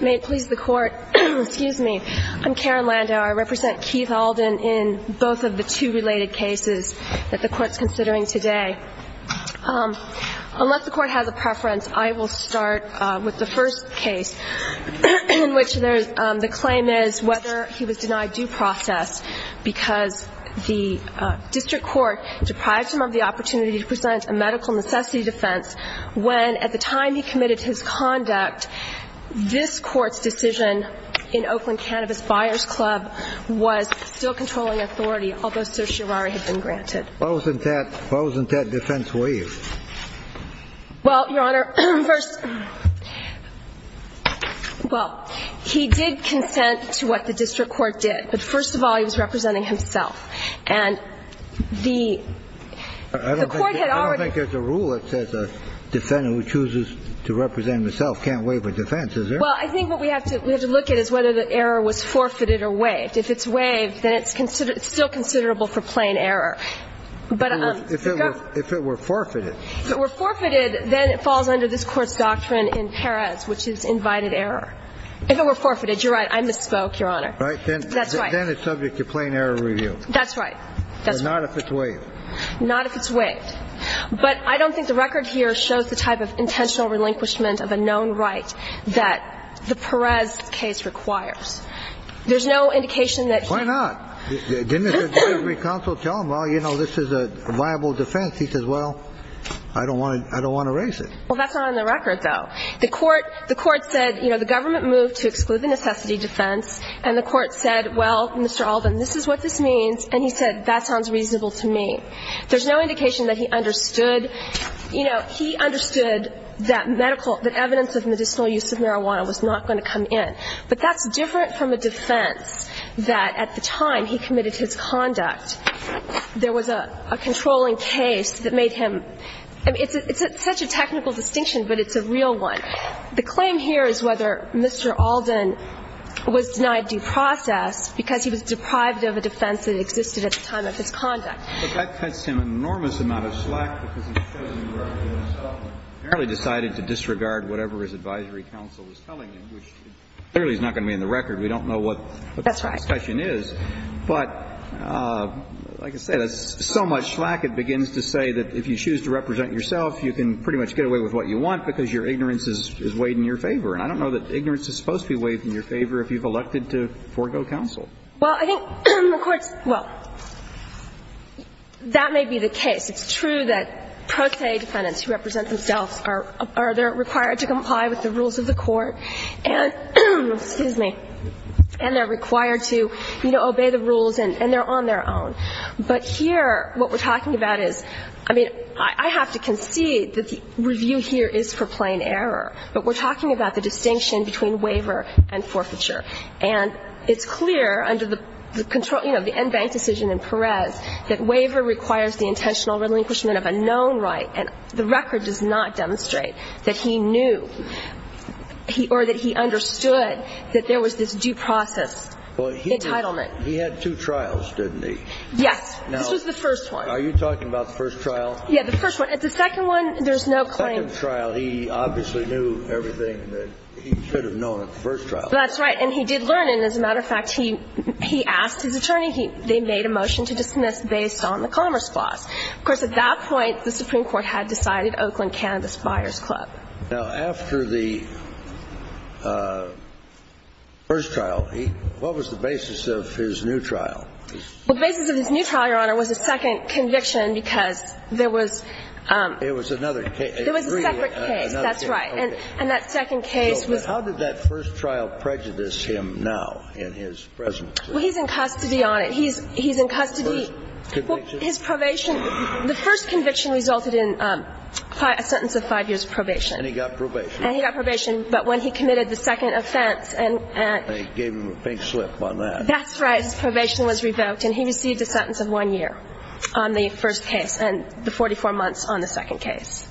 May it please the Court, excuse me. I'm Karen Landau. I represent Keith Alden in both of the two related cases that the Court's considering today. Unless the Court has a preference, I will start with the first case in which there's the claim is whether he was denied due process because the Court's decision in Oakland Cannabis Buyers Club was still controlling authority, although certiorari had been granted. Why wasn't that defense waived? Well, Your Honor, first, well, he did consent to what the district court did. But first of all, he was representing himself. And the Court had already decided that he was going to represent himself. So I think as a rule, it says a defendant who chooses to represent himself can't waive a defense, is there? Well, I think what we have to look at is whether the error was forfeited or waived. If it's waived, then it's still considerable for plain error. But if it were forfeited. If it were forfeited, then it falls under this Court's doctrine in Perez, which is invited error. If it were forfeited, you're right, I misspoke, Your Honor. Right, then it's subject to plain error review. That's right. But not if it's waived. Not if it's waived. But I don't think the record here shows the type of intentional relinquishment of a known right that the Perez case requires. There's no indication that he Why not? Didn't his advisory counsel tell him, well, you know, this is a viable defense? He says, well, I don't want to raise it. Well, that's not on the record, though. The Court said, you know, the government moved to exclude the necessity defense. And the Court said, well, Mr. Alden, this is what this means. And he said, that sounds reasonable to me. There's no indication that he understood, you know, he understood that medical that evidence of medicinal use of marijuana was not going to come in. But that's different from a defense that at the time he committed his conduct, there was a controlling case that made him I mean, it's such a technical distinction, but it's a real one. The claim here is whether Mr. Alden was denied due process because he was deprived of a defense that existed at the time of his conduct. But that cuts him an enormous amount of slack because he's chosen to represent himself and apparently decided to disregard whatever his advisory counsel was telling him, which clearly is not going to be in the record. We don't know what the discussion is. That's right. But like I said, it's so much slack, it begins to say that if you choose to represent yourself, you can pretty much get away with what you want because your ignorance is weighed in your favor. And I don't know that ignorance is supposed to be weighed in your favor if you've elected to forego counsel. Well, I think the Court's, well, that may be the case. It's true that pro se defendants who represent themselves are, are they're required to comply with the rules of the Court and, excuse me, and they're required to, you know, obey the rules and they're on their own. But here, what we're talking about is, I mean, I have to concede that the review here is for plain error. But we're talking about the distinction between waiver and forfeiture. And it's clear under the control, you know, the en banc decision in Perez that waiver requires the intentional relinquishment of a known right and the record does not demonstrate that he knew or that he understood that there was this due process entitlement. He had two trials, didn't he? Yes. This was the first one. Are you talking about the first trial? Yeah, the first one. At the second one, there's no claim. The second trial, he obviously knew everything that he could have known at the first trial. That's right. And he did learn. And as a matter of fact, he, he asked his attorney. They made a motion to dismiss based on the Commerce Clause. Of course, at that point, the Supreme Court had decided Oakland, Canada's Buyers Club. Now, after the first trial, what was the basis of his new trial? The basis of his new trial, Your Honor, was a second conviction because there was It was another case. There was a separate case. That's right. And that second case was How did that first trial prejudice him now in his presence? Well, he's in custody on it. He's in custody. Well, his probation, the first conviction resulted in a sentence of five years of probation. And he got probation. And he got probation. But when he committed the second offense and They gave him a pink slip on that. That's right. His probation was revoked. And he received a sentence of one year on the first case and the 44 months on the second case.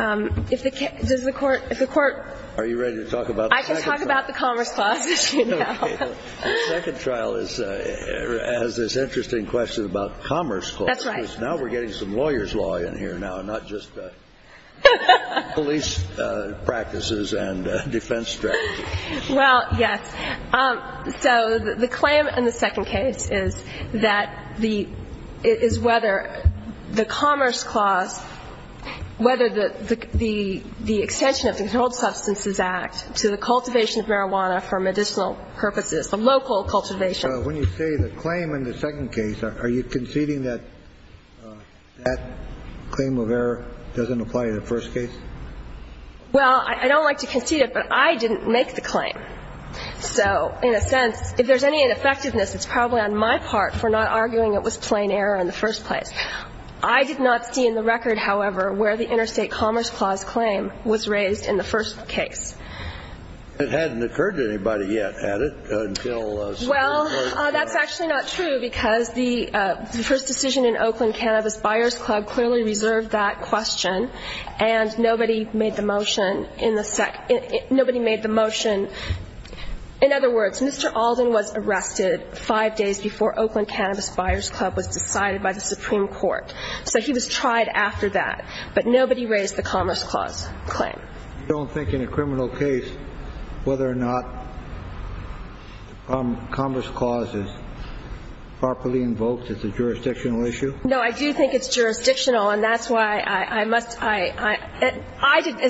If the court Are you ready to talk about the second trial? I can talk about the Commerce Clause, as you know. Okay. The second trial has this interesting question about Commerce Clause. That's right. Because now we're getting some lawyer's law in here now, not just police practices and defense strategy. Well, yes. So the claim in the second case is that the is whether the Commerce Clause, whether the extension of the Controlled Substances Act to the cultivation of marijuana for medicinal purposes, the local cultivation. When you say the claim in the second case, are you conceding that that claim of error doesn't apply to the first case? Well, I don't like to concede it, but I didn't make the claim. So in a sense, if there's any ineffectiveness, it's probably on my part for not arguing it was plain error in the first place. I did not see in the record, however, where the Interstate Commerce Clause claim was raised in the first case. It hadn't occurred to anybody yet, had it? Well, that's actually not true because the first decision in Oakland Cannabis Buyers Club clearly reserved that question, and nobody made the motion in the second. Nobody made the motion. In other words, Mr. Alden was arrested five days before Oakland Cannabis Buyers Club was decided by the Supreme Court. So he was tried after that. But nobody raised the Commerce Clause claim. You don't think in a criminal case whether or not Commerce Clause is properly invoked as a jurisdictional issue? No, I do think it's jurisdictional, and that's why I must – as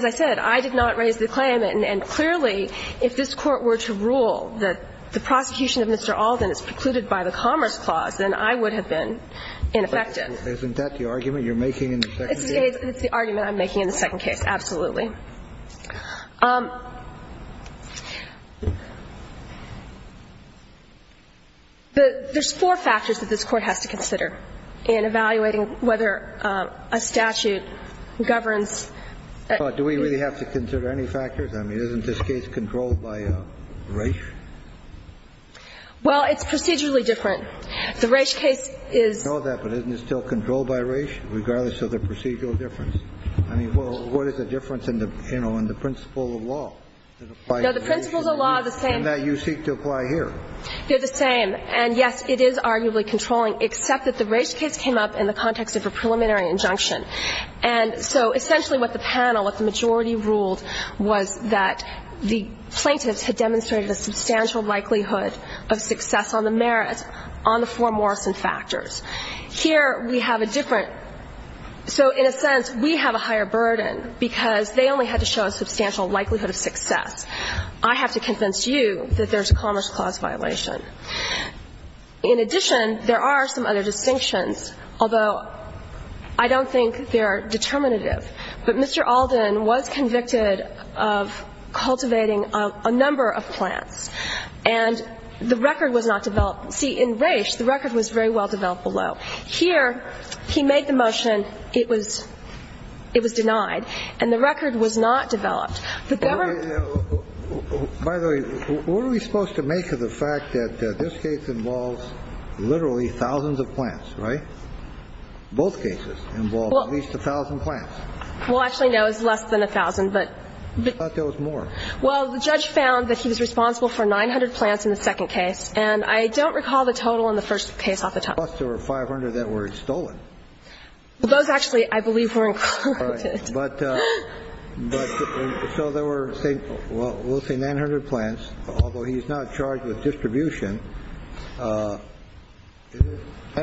I said, I did not raise the claim. And clearly, if this Court were to rule that the prosecution of Mr. Alden is precluded by the Commerce Clause, then I would have been ineffective. Isn't that the argument you're making in the second case? It's the argument I'm making in the second case, absolutely. Okay. There's four factors that this Court has to consider in evaluating whether a statute governs – Do we really have to consider any factors? I mean, isn't this case controlled by race? Well, it's procedurally different. The race case is – I know that, but isn't it still controlled by race, regardless of the procedural difference? I mean, what is the difference in the principle of law? No, the principles of law are the same. And that you seek to apply here. They're the same. And, yes, it is arguably controlling, except that the race case came up in the context of a preliminary injunction. And so essentially what the panel, what the majority ruled was that the plaintiffs had demonstrated a substantial likelihood of success on the merit on the four Morrison factors. Here we have a different – so in a sense, we have a higher burden, because they only had to show a substantial likelihood of success. I have to convince you that there's a Commerce Clause violation. In addition, there are some other distinctions, although I don't think they're determinative. But Mr. Alden was convicted of cultivating a number of plants. And the record was not developed. See, in race, the record was very well developed below. Here he made the motion it was denied. And the record was not developed. The government – By the way, what are we supposed to make of the fact that this case involves literally thousands of plants, right? Both cases involve at least 1,000 plants. Well, actually, no, it's less than 1,000. But – I thought there was more. Well, the judge found that he was responsible for 900 plants in the second case. And I don't recall the total in the first case off the top. Plus there were 500 that were stolen. Well, those actually, I believe, were included. Right. But – but so there were, say, we'll say 900 plants, although he's not charged with distribution. That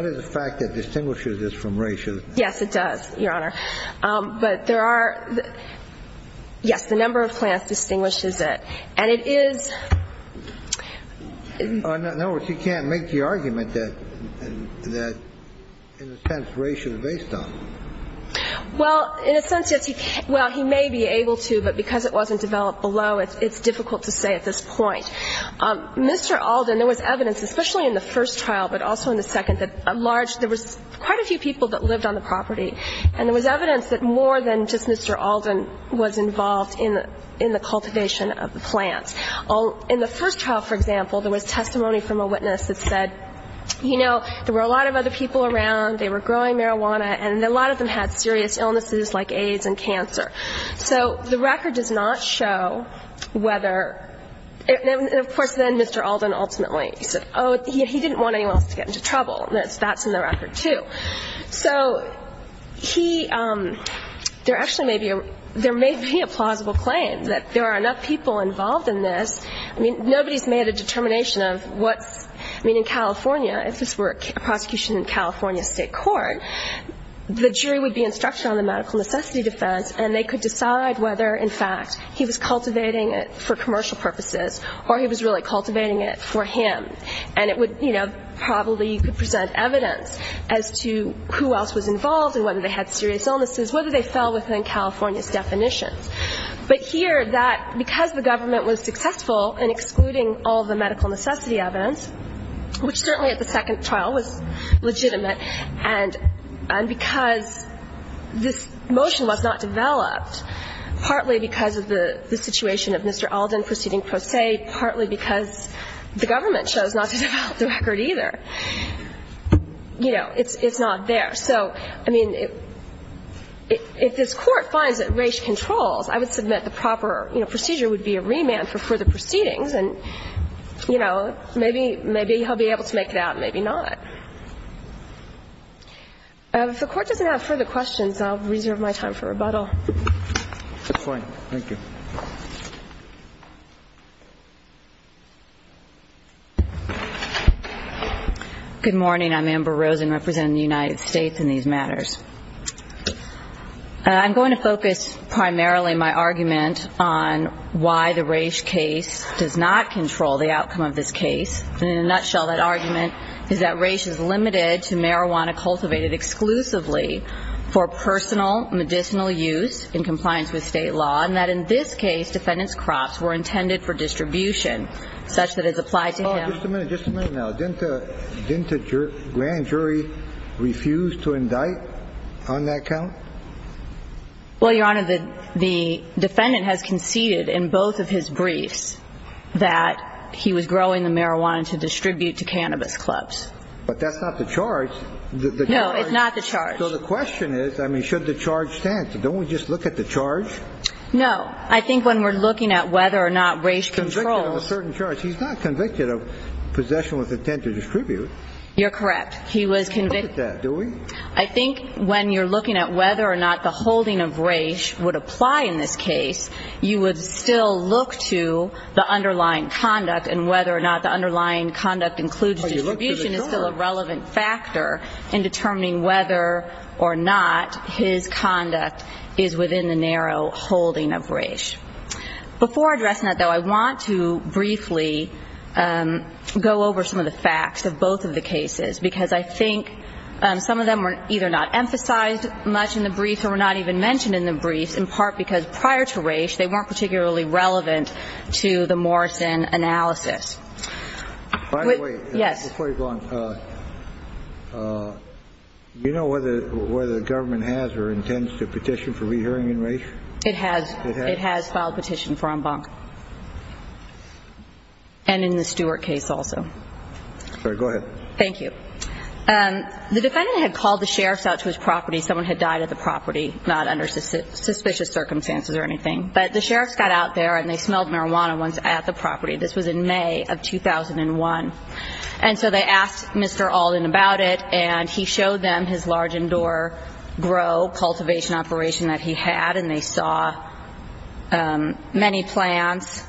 is a fact that distinguishes this from race, isn't it? Yes, it does, Your Honor. But there are – yes, the number of plants distinguishes it. And it is – In other words, he can't make the argument that, in a sense, race is based on it. Well, in a sense, yes, he – well, he may be able to, but because it wasn't developed below, it's difficult to say at this point. Mr. Alden, there was evidence, especially in the first trial, but also in the second, that a large – there was quite a few people that lived on the property. And there was evidence that more than just Mr. Alden was involved in the cultivation of the plants. In the first trial, for example, there was testimony from a witness that said, you know, there were a lot of other people around, they were growing marijuana, and a lot of them had serious illnesses like AIDS and cancer. So the record does not show whether – and, of course, then Mr. Alden ultimately said, oh, he didn't want anyone else to get into trouble. That's in the record, too. So he – there actually may be a – there may be a plausible claim that there are enough people involved in this. I mean, nobody's made a determination of what's – I mean, in California, if this were a prosecution in California State Court, the jury would be instructed on the medical necessity defense, and they could decide whether, in fact, he was cultivating it for commercial purposes or he was really cultivating it for him. And it would, you know, probably present evidence as to who else was involved and whether they had serious illnesses, whether they fell within California's definitions. But here, that – because the government was successful in excluding all the medical necessity evidence, which certainly at the second trial was legitimate, and because this motion was not developed, partly because of the situation of Mr. Alden, it's not to develop the record either. You know, it's not there. So, I mean, if this Court finds that Raich controls, I would submit the proper procedure would be a remand for further proceedings, and, you know, maybe he'll be able to make it out, maybe not. If the Court doesn't have further questions, I'll reserve my time for rebuttal. Fine. Thank you. Good morning. I'm Amber Rosen representing the United States in these matters. I'm going to focus primarily my argument on why the Raich case does not control the outcome of this case. In a nutshell, that argument is that Raich is limited to marijuana cultivated exclusively for personal medicinal use in compliance with state law, and that in this case, defendant's crops were intended for distribution such that it's applied to him. Just a minute. Just a minute now. Didn't the grand jury refuse to indict on that count? Well, Your Honor, the defendant has conceded in both of his briefs that he was growing the marijuana to distribute to cannabis clubs. But that's not the charge. No, it's not the charge. So the question is, I mean, should the charge stand? Don't we just look at the charge? No. I think when we're looking at whether or not Raich controls. He's convicted of a certain charge. He's not convicted of possession with intent to distribute. You're correct. He was convicted. We don't look at that, do we? I think when you're looking at whether or not the holding of Raich would apply in this case, you would still look to the underlying conduct and whether or not the conduct is within the narrow holding of Raich. Before addressing that, though, I want to briefly go over some of the facts of both of the cases, because I think some of them were either not emphasized much in the brief or were not even mentioned in the briefs, in part because prior to Raich, they weren't particularly relevant to the Morrison analysis. By the way, before you go on, do you know whether the government has or intends to petition for re-hearing in Raich? It has. It has? It has filed a petition for en banc and in the Stewart case also. Go ahead. Thank you. The defendant had called the sheriffs out to his property. Someone had died at the property, not under suspicious circumstances or anything, but the sheriffs got out there and they smelled marijuana once at the property. This was in May of 2001. And so they asked Mr. Alden about it, and he showed them his large indoor grow cultivation operation that he had, and they saw many plants,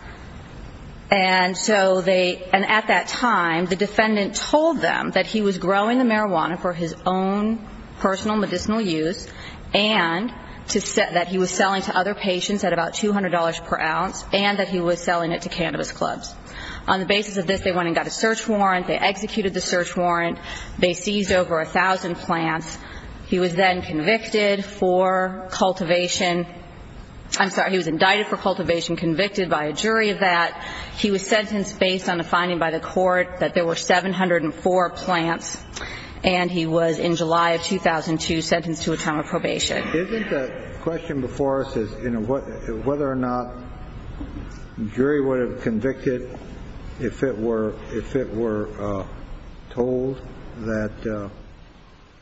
and so they at that time, the defendant told them that he was growing the marijuana for his own personal medicinal use, and that he was selling to other patients at about $200 per ounce, and that he was selling it to cannabis clubs. On the basis of this, they went and got a search warrant. They executed the search warrant. They seized over 1,000 plants. He was then convicted for cultivation. I'm sorry. He was indicted for cultivation, convicted by a jury of that. He was sentenced based on a finding by the court that there were 704 plants, and he was in July of 2002 sentenced to a term of probation. Isn't the question before us is whether or not the jury would have convicted if it were told that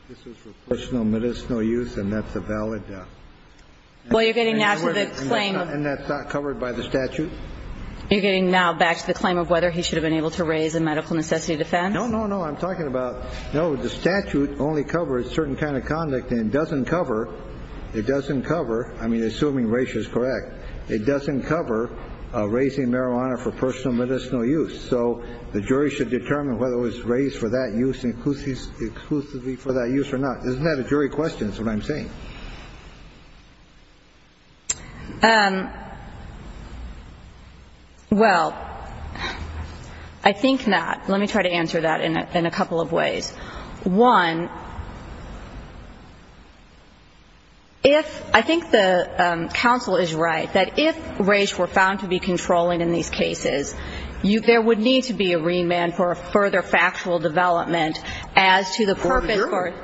this was for personal medicinal use, and that's a valid claim, and that's not covered by the statute? You're getting now back to the claim of whether he should have been able to raise a medical necessity defense? No, no, no. I'm talking about, no, the statute only covers certain kind of conduct, and it doesn't cover, I mean, assuming Raisha's correct, it doesn't cover raising marijuana for personal medicinal use, so the jury should determine whether it was raised for that use exclusively for that use or not. Isn't that a jury question is what I'm saying? Well, I think not. One, if I think the counsel is right, that if Raisha were found to be controlling in these cases, there would need to be a remand for a further factual development as to the purpose.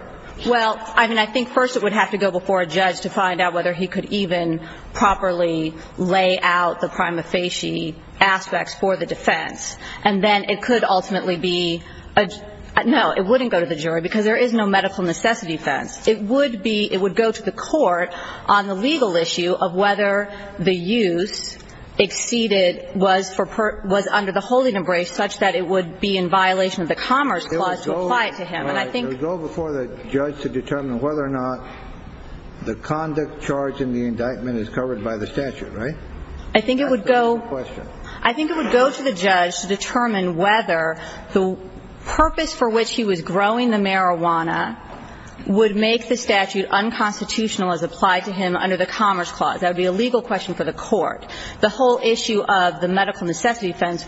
Well, I mean, I think first it would have to go before a judge to find out whether he could even properly lay out the prima facie aspects for the defense, and then it could ultimately be, no, it wouldn't go to the jury because there is no medical necessity defense. It would be, it would go to the court on the legal issue of whether the use exceeded was for, was under the holding embrace such that it would be in violation of the Commerce Clause to apply it to him, and I think. It would go before the judge to determine whether or not the conduct charged in the indictment is covered by the statute, right? I think it would go. That's the question. I think it would go to the judge to determine whether the purpose for which he was growing the marijuana would make the statute unconstitutional as applied to him under the Commerce Clause. That would be a legal question for the court. The whole issue of the medical necessity defense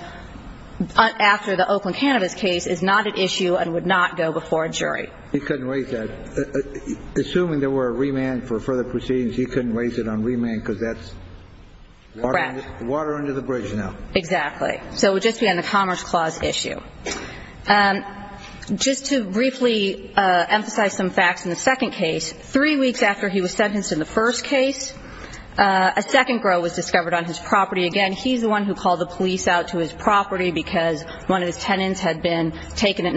after the Oakland Cannabis case is not an issue and would not go before a jury. He couldn't raise that. Assuming there were a remand for further proceedings, he couldn't raise it on remand because that's. Correct. Water under the bridge now. Exactly. So it would just be on the Commerce Clause issue. Just to briefly emphasize some facts in the second case, three weeks after he was sentenced in the first case, a second girl was discovered on his property. Again, he's the one who called the police out to his property because one of his tenants had been taken at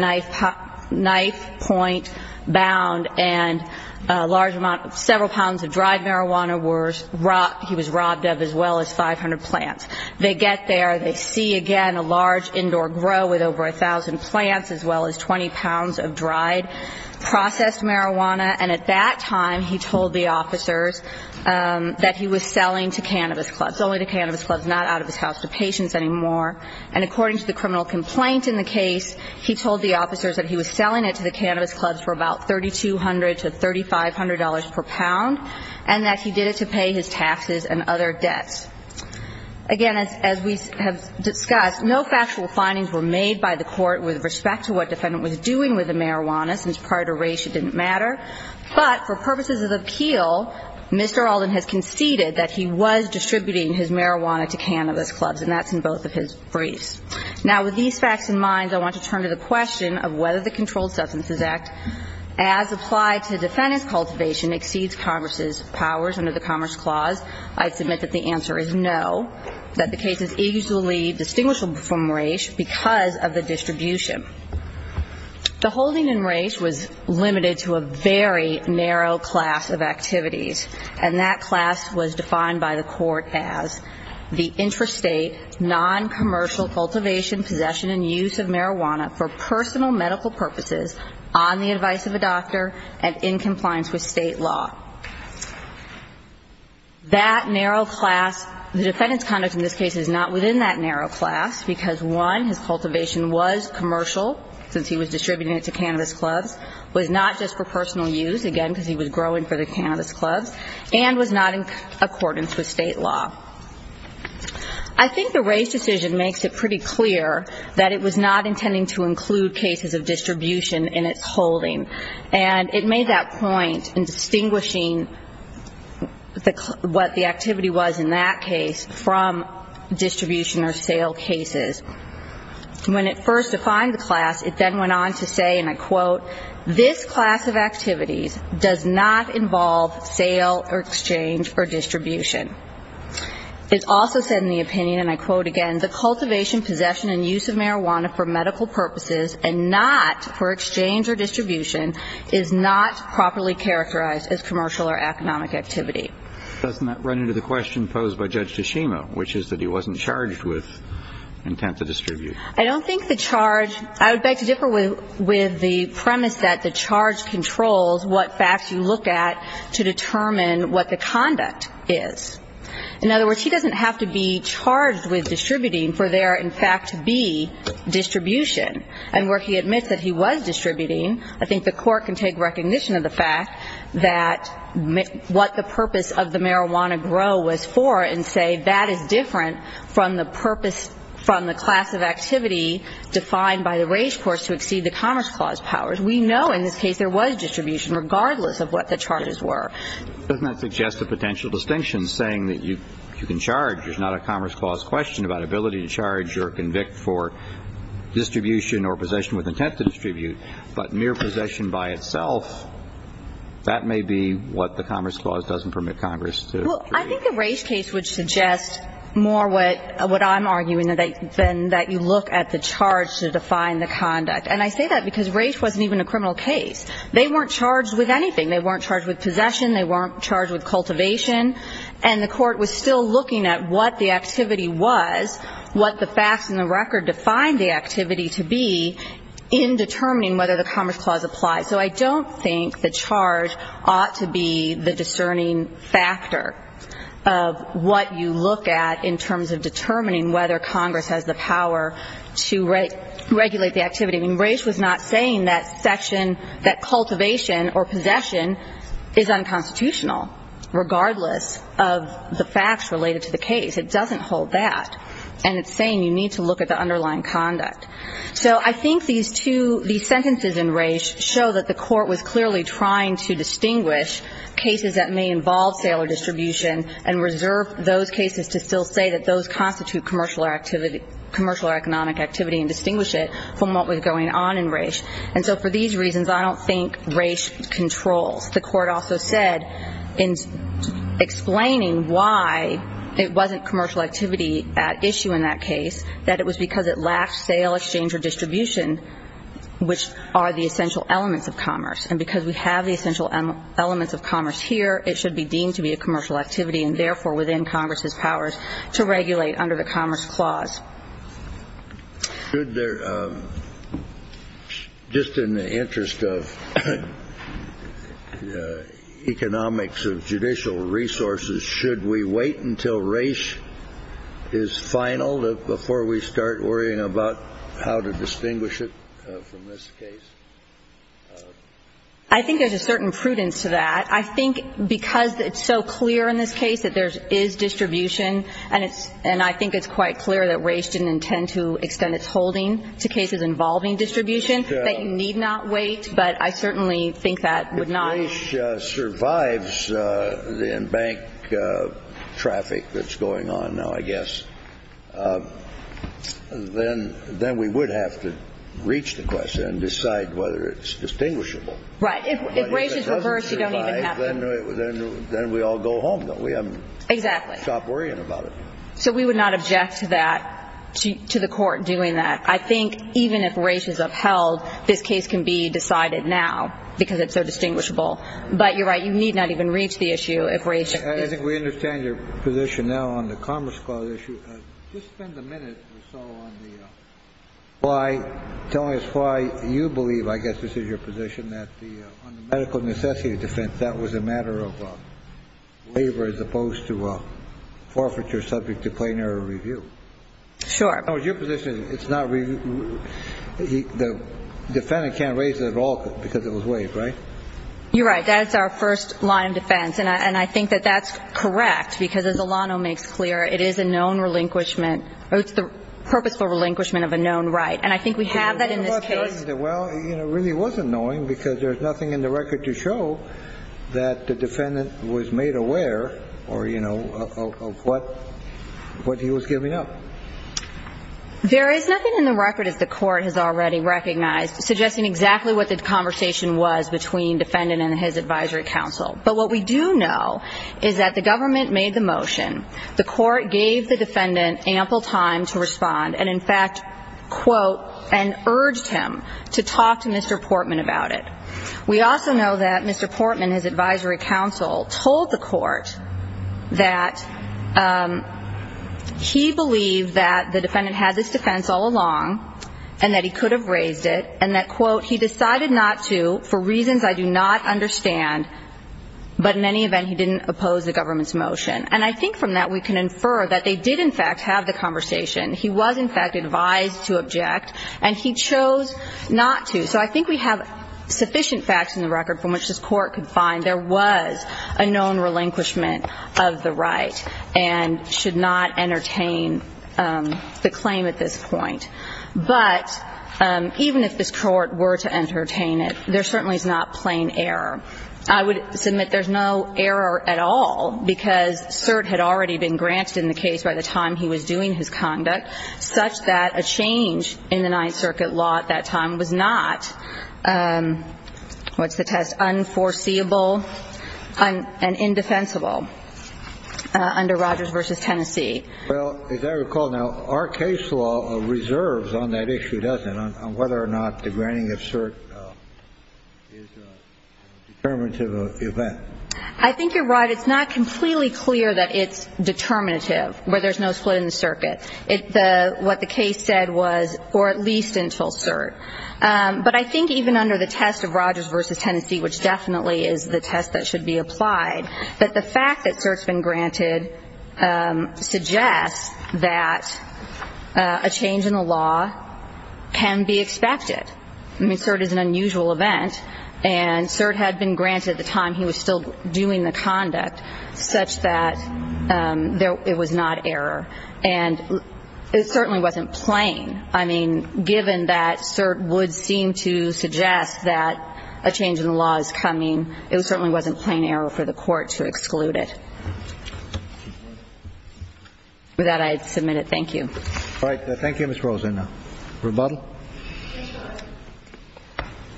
knife point bound and a large amount, several pounds of marijuana. They get there. They see, again, a large indoor grow with over a thousand plants as well as 20 pounds of dried, processed marijuana. And at that time, he told the officers that he was selling to cannabis clubs, only to cannabis clubs, not out of his house to patients anymore. And according to the criminal complaint in the case, he told the officers that he was selling it to the cannabis clubs for about $3,200 to $3,500 per pound and that he did it to pay his taxes and other debts. Again, as we have discussed, no factual findings were made by the court with respect to what the defendant was doing with the marijuana, since prior to race it didn't matter. But for purposes of appeal, Mr. Alden has conceded that he was distributing his marijuana to cannabis clubs, and that's in both of his briefs. Now, with these facts in mind, I want to turn to the question of whether the Controlled Substances Act, as applied to defendant's cultivation, exceeds Congress's powers under the Commerce Clause. I submit that the answer is no, that the case is easily distinguishable from race because of the distribution. The holding in race was limited to a very narrow class of activities, and that class was defined by the court as the intrastate, noncommercial cultivation, possession, and use of marijuana for personal medical purposes, on the advice of a doctor, and in compliance with state law. That narrow class, the defendant's conduct in this case is not within that narrow class because, one, his cultivation was commercial, since he was distributing it to cannabis clubs, was not just for personal use, again, because he was growing for the cannabis clubs, and was not in accordance with state law. I think the race decision makes it pretty clear that it was not intending to include cases of distribution in its holding. And it made that point in distinguishing what the activity was in that case from distribution or sale cases. When it first defined the class, it then went on to say, and I quote, this class of activities does not involve sale or exchange or distribution. It also said in the opinion, and I quote again, the cultivation, possession, and use of marijuana for medical purposes, and not for exchange or distribution, is not properly characterized as commercial or economic activity. Doesn't that run into the question posed by Judge Tashima, which is that he wasn't charged with intent to distribute? I don't think the charge, I would beg to differ with the premise that the charge controls what facts you look at to determine what the conduct is. In other words, he doesn't have to be charged with distributing for there, in fact, to be distribution. And where he admits that he was distributing, I think the court can take recognition of the fact that what the purpose of the marijuana grow was for and say that is different from the purpose from the class of activity defined by the race course to exceed the Commerce Clause powers. We know in this case there was distribution, regardless of what the charges were. Doesn't that suggest a potential distinction, saying that you can charge, there's not a Commerce Clause question about ability to charge or convict for distribution or possession with intent to distribute, but mere possession by itself, that may be what the Commerce Clause doesn't permit Congress to. Well, I think the race case would suggest more what I'm arguing than that you look at the charge to define the conduct. And I say that because race wasn't even a criminal case. They weren't charged with anything. They weren't charged with possession. They weren't charged with cultivation. And the court was still looking at what the activity was, what the facts and the record defined the activity to be in determining whether the Commerce Clause applies. So I don't think the charge ought to be the discerning factor of what you look at in terms of determining whether Congress has the power to regulate the activity. I mean, race was not saying that section, that cultivation or possession is unconstitutional regardless of the facts related to the case. It doesn't hold that. And it's saying you need to look at the underlying conduct. So I think these two, these sentences in race show that the court was clearly trying to distinguish cases that may involve sale or distribution and reserve those cases to still say that those constitute commercial or economic activity and distinguish it from what was going on in race. And so for these reasons, I don't think race controls. The court also said in explaining why it wasn't commercial activity at issue in that case, that it was because it lacked sale, exchange, or distribution, which are the essential elements of commerce. And because we have the essential elements of commerce here, it should be deemed to be a commercial activity and, therefore, within Congress's powers to regulate under the Commerce Clause. Should there, just in the interest of economics of judicial resources, should we wait until race is final before we start worrying about how to distinguish it from this case? I think there's a certain prudence to that. I think because it's so clear in this case that there is distribution and I think it's quite clear that race didn't intend to extend its holding to cases involving distribution, that you need not wait. But I certainly think that would not. If race survives in bank traffic that's going on now, I guess, then we would have to reach the question and decide whether it's distinguishable. Right. If race is reversed, you don't even have to. If it doesn't survive, then we all go home, don't we? Exactly. Stop worrying about it. So we would not object to that, to the Court doing that. I think even if race is upheld, this case can be decided now because it's so distinguishable. But you're right. You need not even reach the issue if race exists. I think we understand your position now on the Commerce Clause issue. Just spend a minute or so on the why, telling us why you believe, I guess this is your position, that the medical necessity of defense, that was a matter of labor as opposed to a forfeiture subject to plain error review. Sure. That was your position. It's not review. The defendant can't raise it at all because it was waived, right? You're right. That's our first line of defense. And I think that that's correct because, as Alano makes clear, it is a known relinquishment or it's the purposeful relinquishment of a known right. And I think we have that in this case. Well, it really was annoying because there's nothing in the record to show that the defendant was made aware of what he was giving up. There is nothing in the record, as the Court has already recognized, suggesting exactly what the conversation was between defendant and his advisory counsel. But what we do know is that the government made the motion. The Court gave the defendant ample time to respond and, in fact, quote, and urged him to talk to Mr. Portman about it. We also know that Mr. Portman, his advisory counsel, told the Court that he believed that the defendant had this defense all along and that he could have raised it and that, quote, he decided not to for reasons I do not understand. But in any event, he didn't oppose the government's motion. And I think from that we can infer that they did, in fact, have the conversation. He was, in fact, advised to object. And he chose not to. So I think we have sufficient facts in the record from which this Court could find there was a known relinquishment of the right and should not entertain the claim at this point. But even if this Court were to entertain it, there certainly is not plain error. I would submit there's no error at all because cert had already been granted in the case by the time he was doing his conduct such that a change in the Ninth Circuit law at that time was not, what's the test, unforeseeable and indefensible under Rogers v. Tennessee. Well, as I recall now, our case law reserves on that issue, doesn't it, on whether or not the granting of cert is a determinative event. I think you're right. It's not completely clear that it's determinative, where there's no split in the circuit. What the case said was, or at least until cert. But I think even under the test of Rogers v. Tennessee, which definitely is the test that should be applied, that the fact that cert's been granted suggests that a change in the law can be expected. I mean, cert is an unusual event. And cert had been granted at the time he was still doing the conduct such that it was not error. And it certainly wasn't plain. I mean, given that cert would seem to suggest that a change in the law is coming, it certainly wasn't plain error for the Court to exclude it. With that, I submit it. Thank you. All right. Thank you, Ms. Rosenbaum. Rebuttal?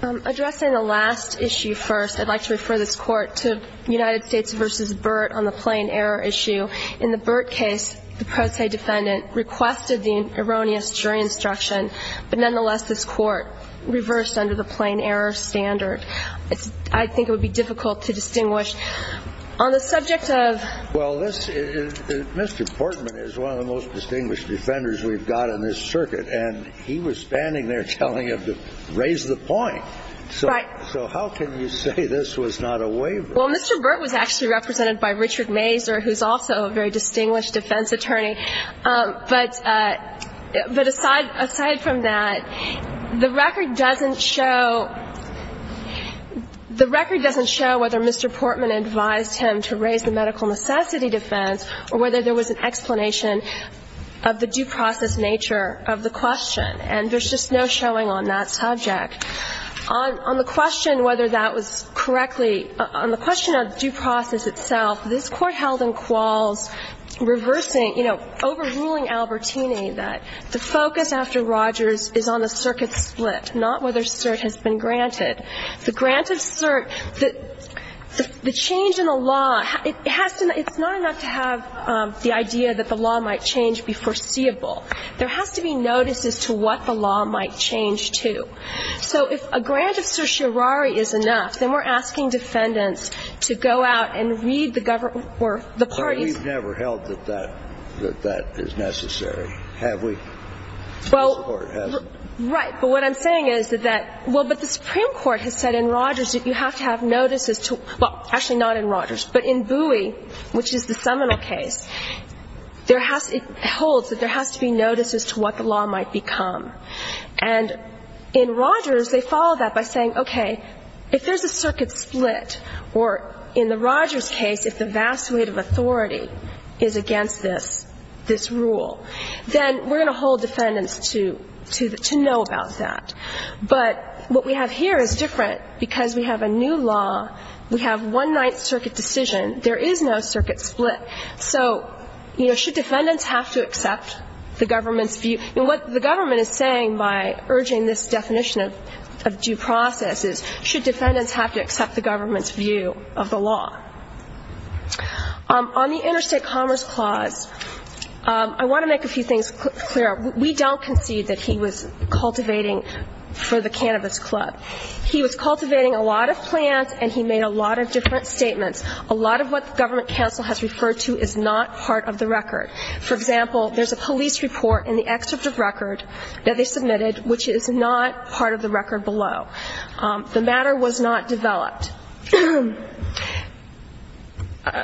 Addressing the last issue first, I'd like to refer this Court to United States v. Burt on the plain error issue. In the Burt case, the pro se defendant requested the erroneous jury instruction. But nonetheless, this Court reversed under the plain error standard. I think it would be difficult to distinguish. On the subject of ---- Well, this is Mr. Portman is one of the most distinguished defenders we've got in this circuit. And he was standing there telling him to raise the point. Right. So how can you say this was not a waiver? Well, Mr. Burt was actually represented by Richard Mazur, who's also a very distinguished defense attorney. But aside from that, the record doesn't show ---- the record doesn't show whether Mr. Portman advised him to raise the medical necessity defense or whether there was an explanation of the due process nature of the question. And there's just no showing on that subject. On the question whether that was correctly ---- on the question of due process itself, this Court held in Qualls reversing, you know, overruling Albertini that the focus after Rogers is on the circuit split, not whether cert has been granted. The grant of cert, the change in the law, it has to ---- it's not enough to have the idea that the law might change be foreseeable. There has to be notices to what the law might change to. So if a grant of certiorari is enough, then we're asking defendants to go out and read the government or the parties. But we've never held that that is necessary, have we? Well, right. But what I'm saying is that that ---- well, but the Supreme Court has said in Rogers that you have to have notices to ---- well, actually not in Rogers, but in Bowie, which is the seminal case, there has ---- it holds that there has to be notices to what the law might become. And in Rogers, they follow that by saying, okay, if there's a circuit split, or in the Rogers case, if the vast weight of authority is against this, this rule, then we're going to hold defendants to know about that. But what we have here is different because we have a new law. We have one ninth circuit decision. There is no circuit split. So, you know, should defendants have to accept the government's view? And what the government is saying by urging this definition of due process is should defendants have to accept the government's view of the law? On the interstate commerce clause, I want to make a few things clear. We don't concede that he was cultivating for the Cannabis Club. He was cultivating a lot of plants, and he made a lot of different statements. A lot of what the government counsel has referred to is not part of the record. For example, there's a police report in the excerpt of record that they submitted, which is not part of the record below. The matter was not developed.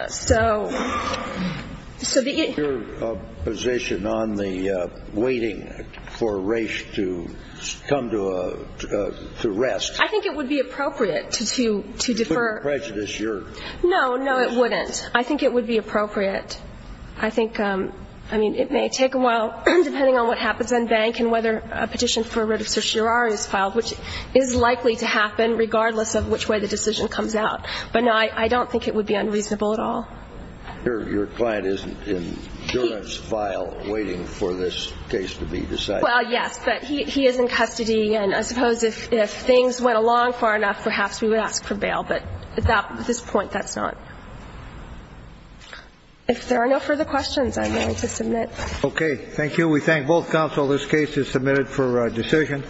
So the ‑‑ Your position on the waiting for race to come to rest. I think it would be appropriate to defer. To put the prejudice, your ‑‑ No, no, it wouldn't. I think it would be appropriate. I think, I mean, it may take a while, depending on what happens in bank and whether a petition for writ of certiorari is filed, which is likely to happen regardless of which way the decision comes out. But, no, I don't think it would be unreasonable at all. Your client is in juris file waiting for this case to be decided. Well, yes, but he is in custody, and I suppose if things went along far enough perhaps we would ask for bail. But at this point, that's not. If there are no further questions, I'm going to submit. Okay. Thank you. We thank both counsel. This case is submitted for decision.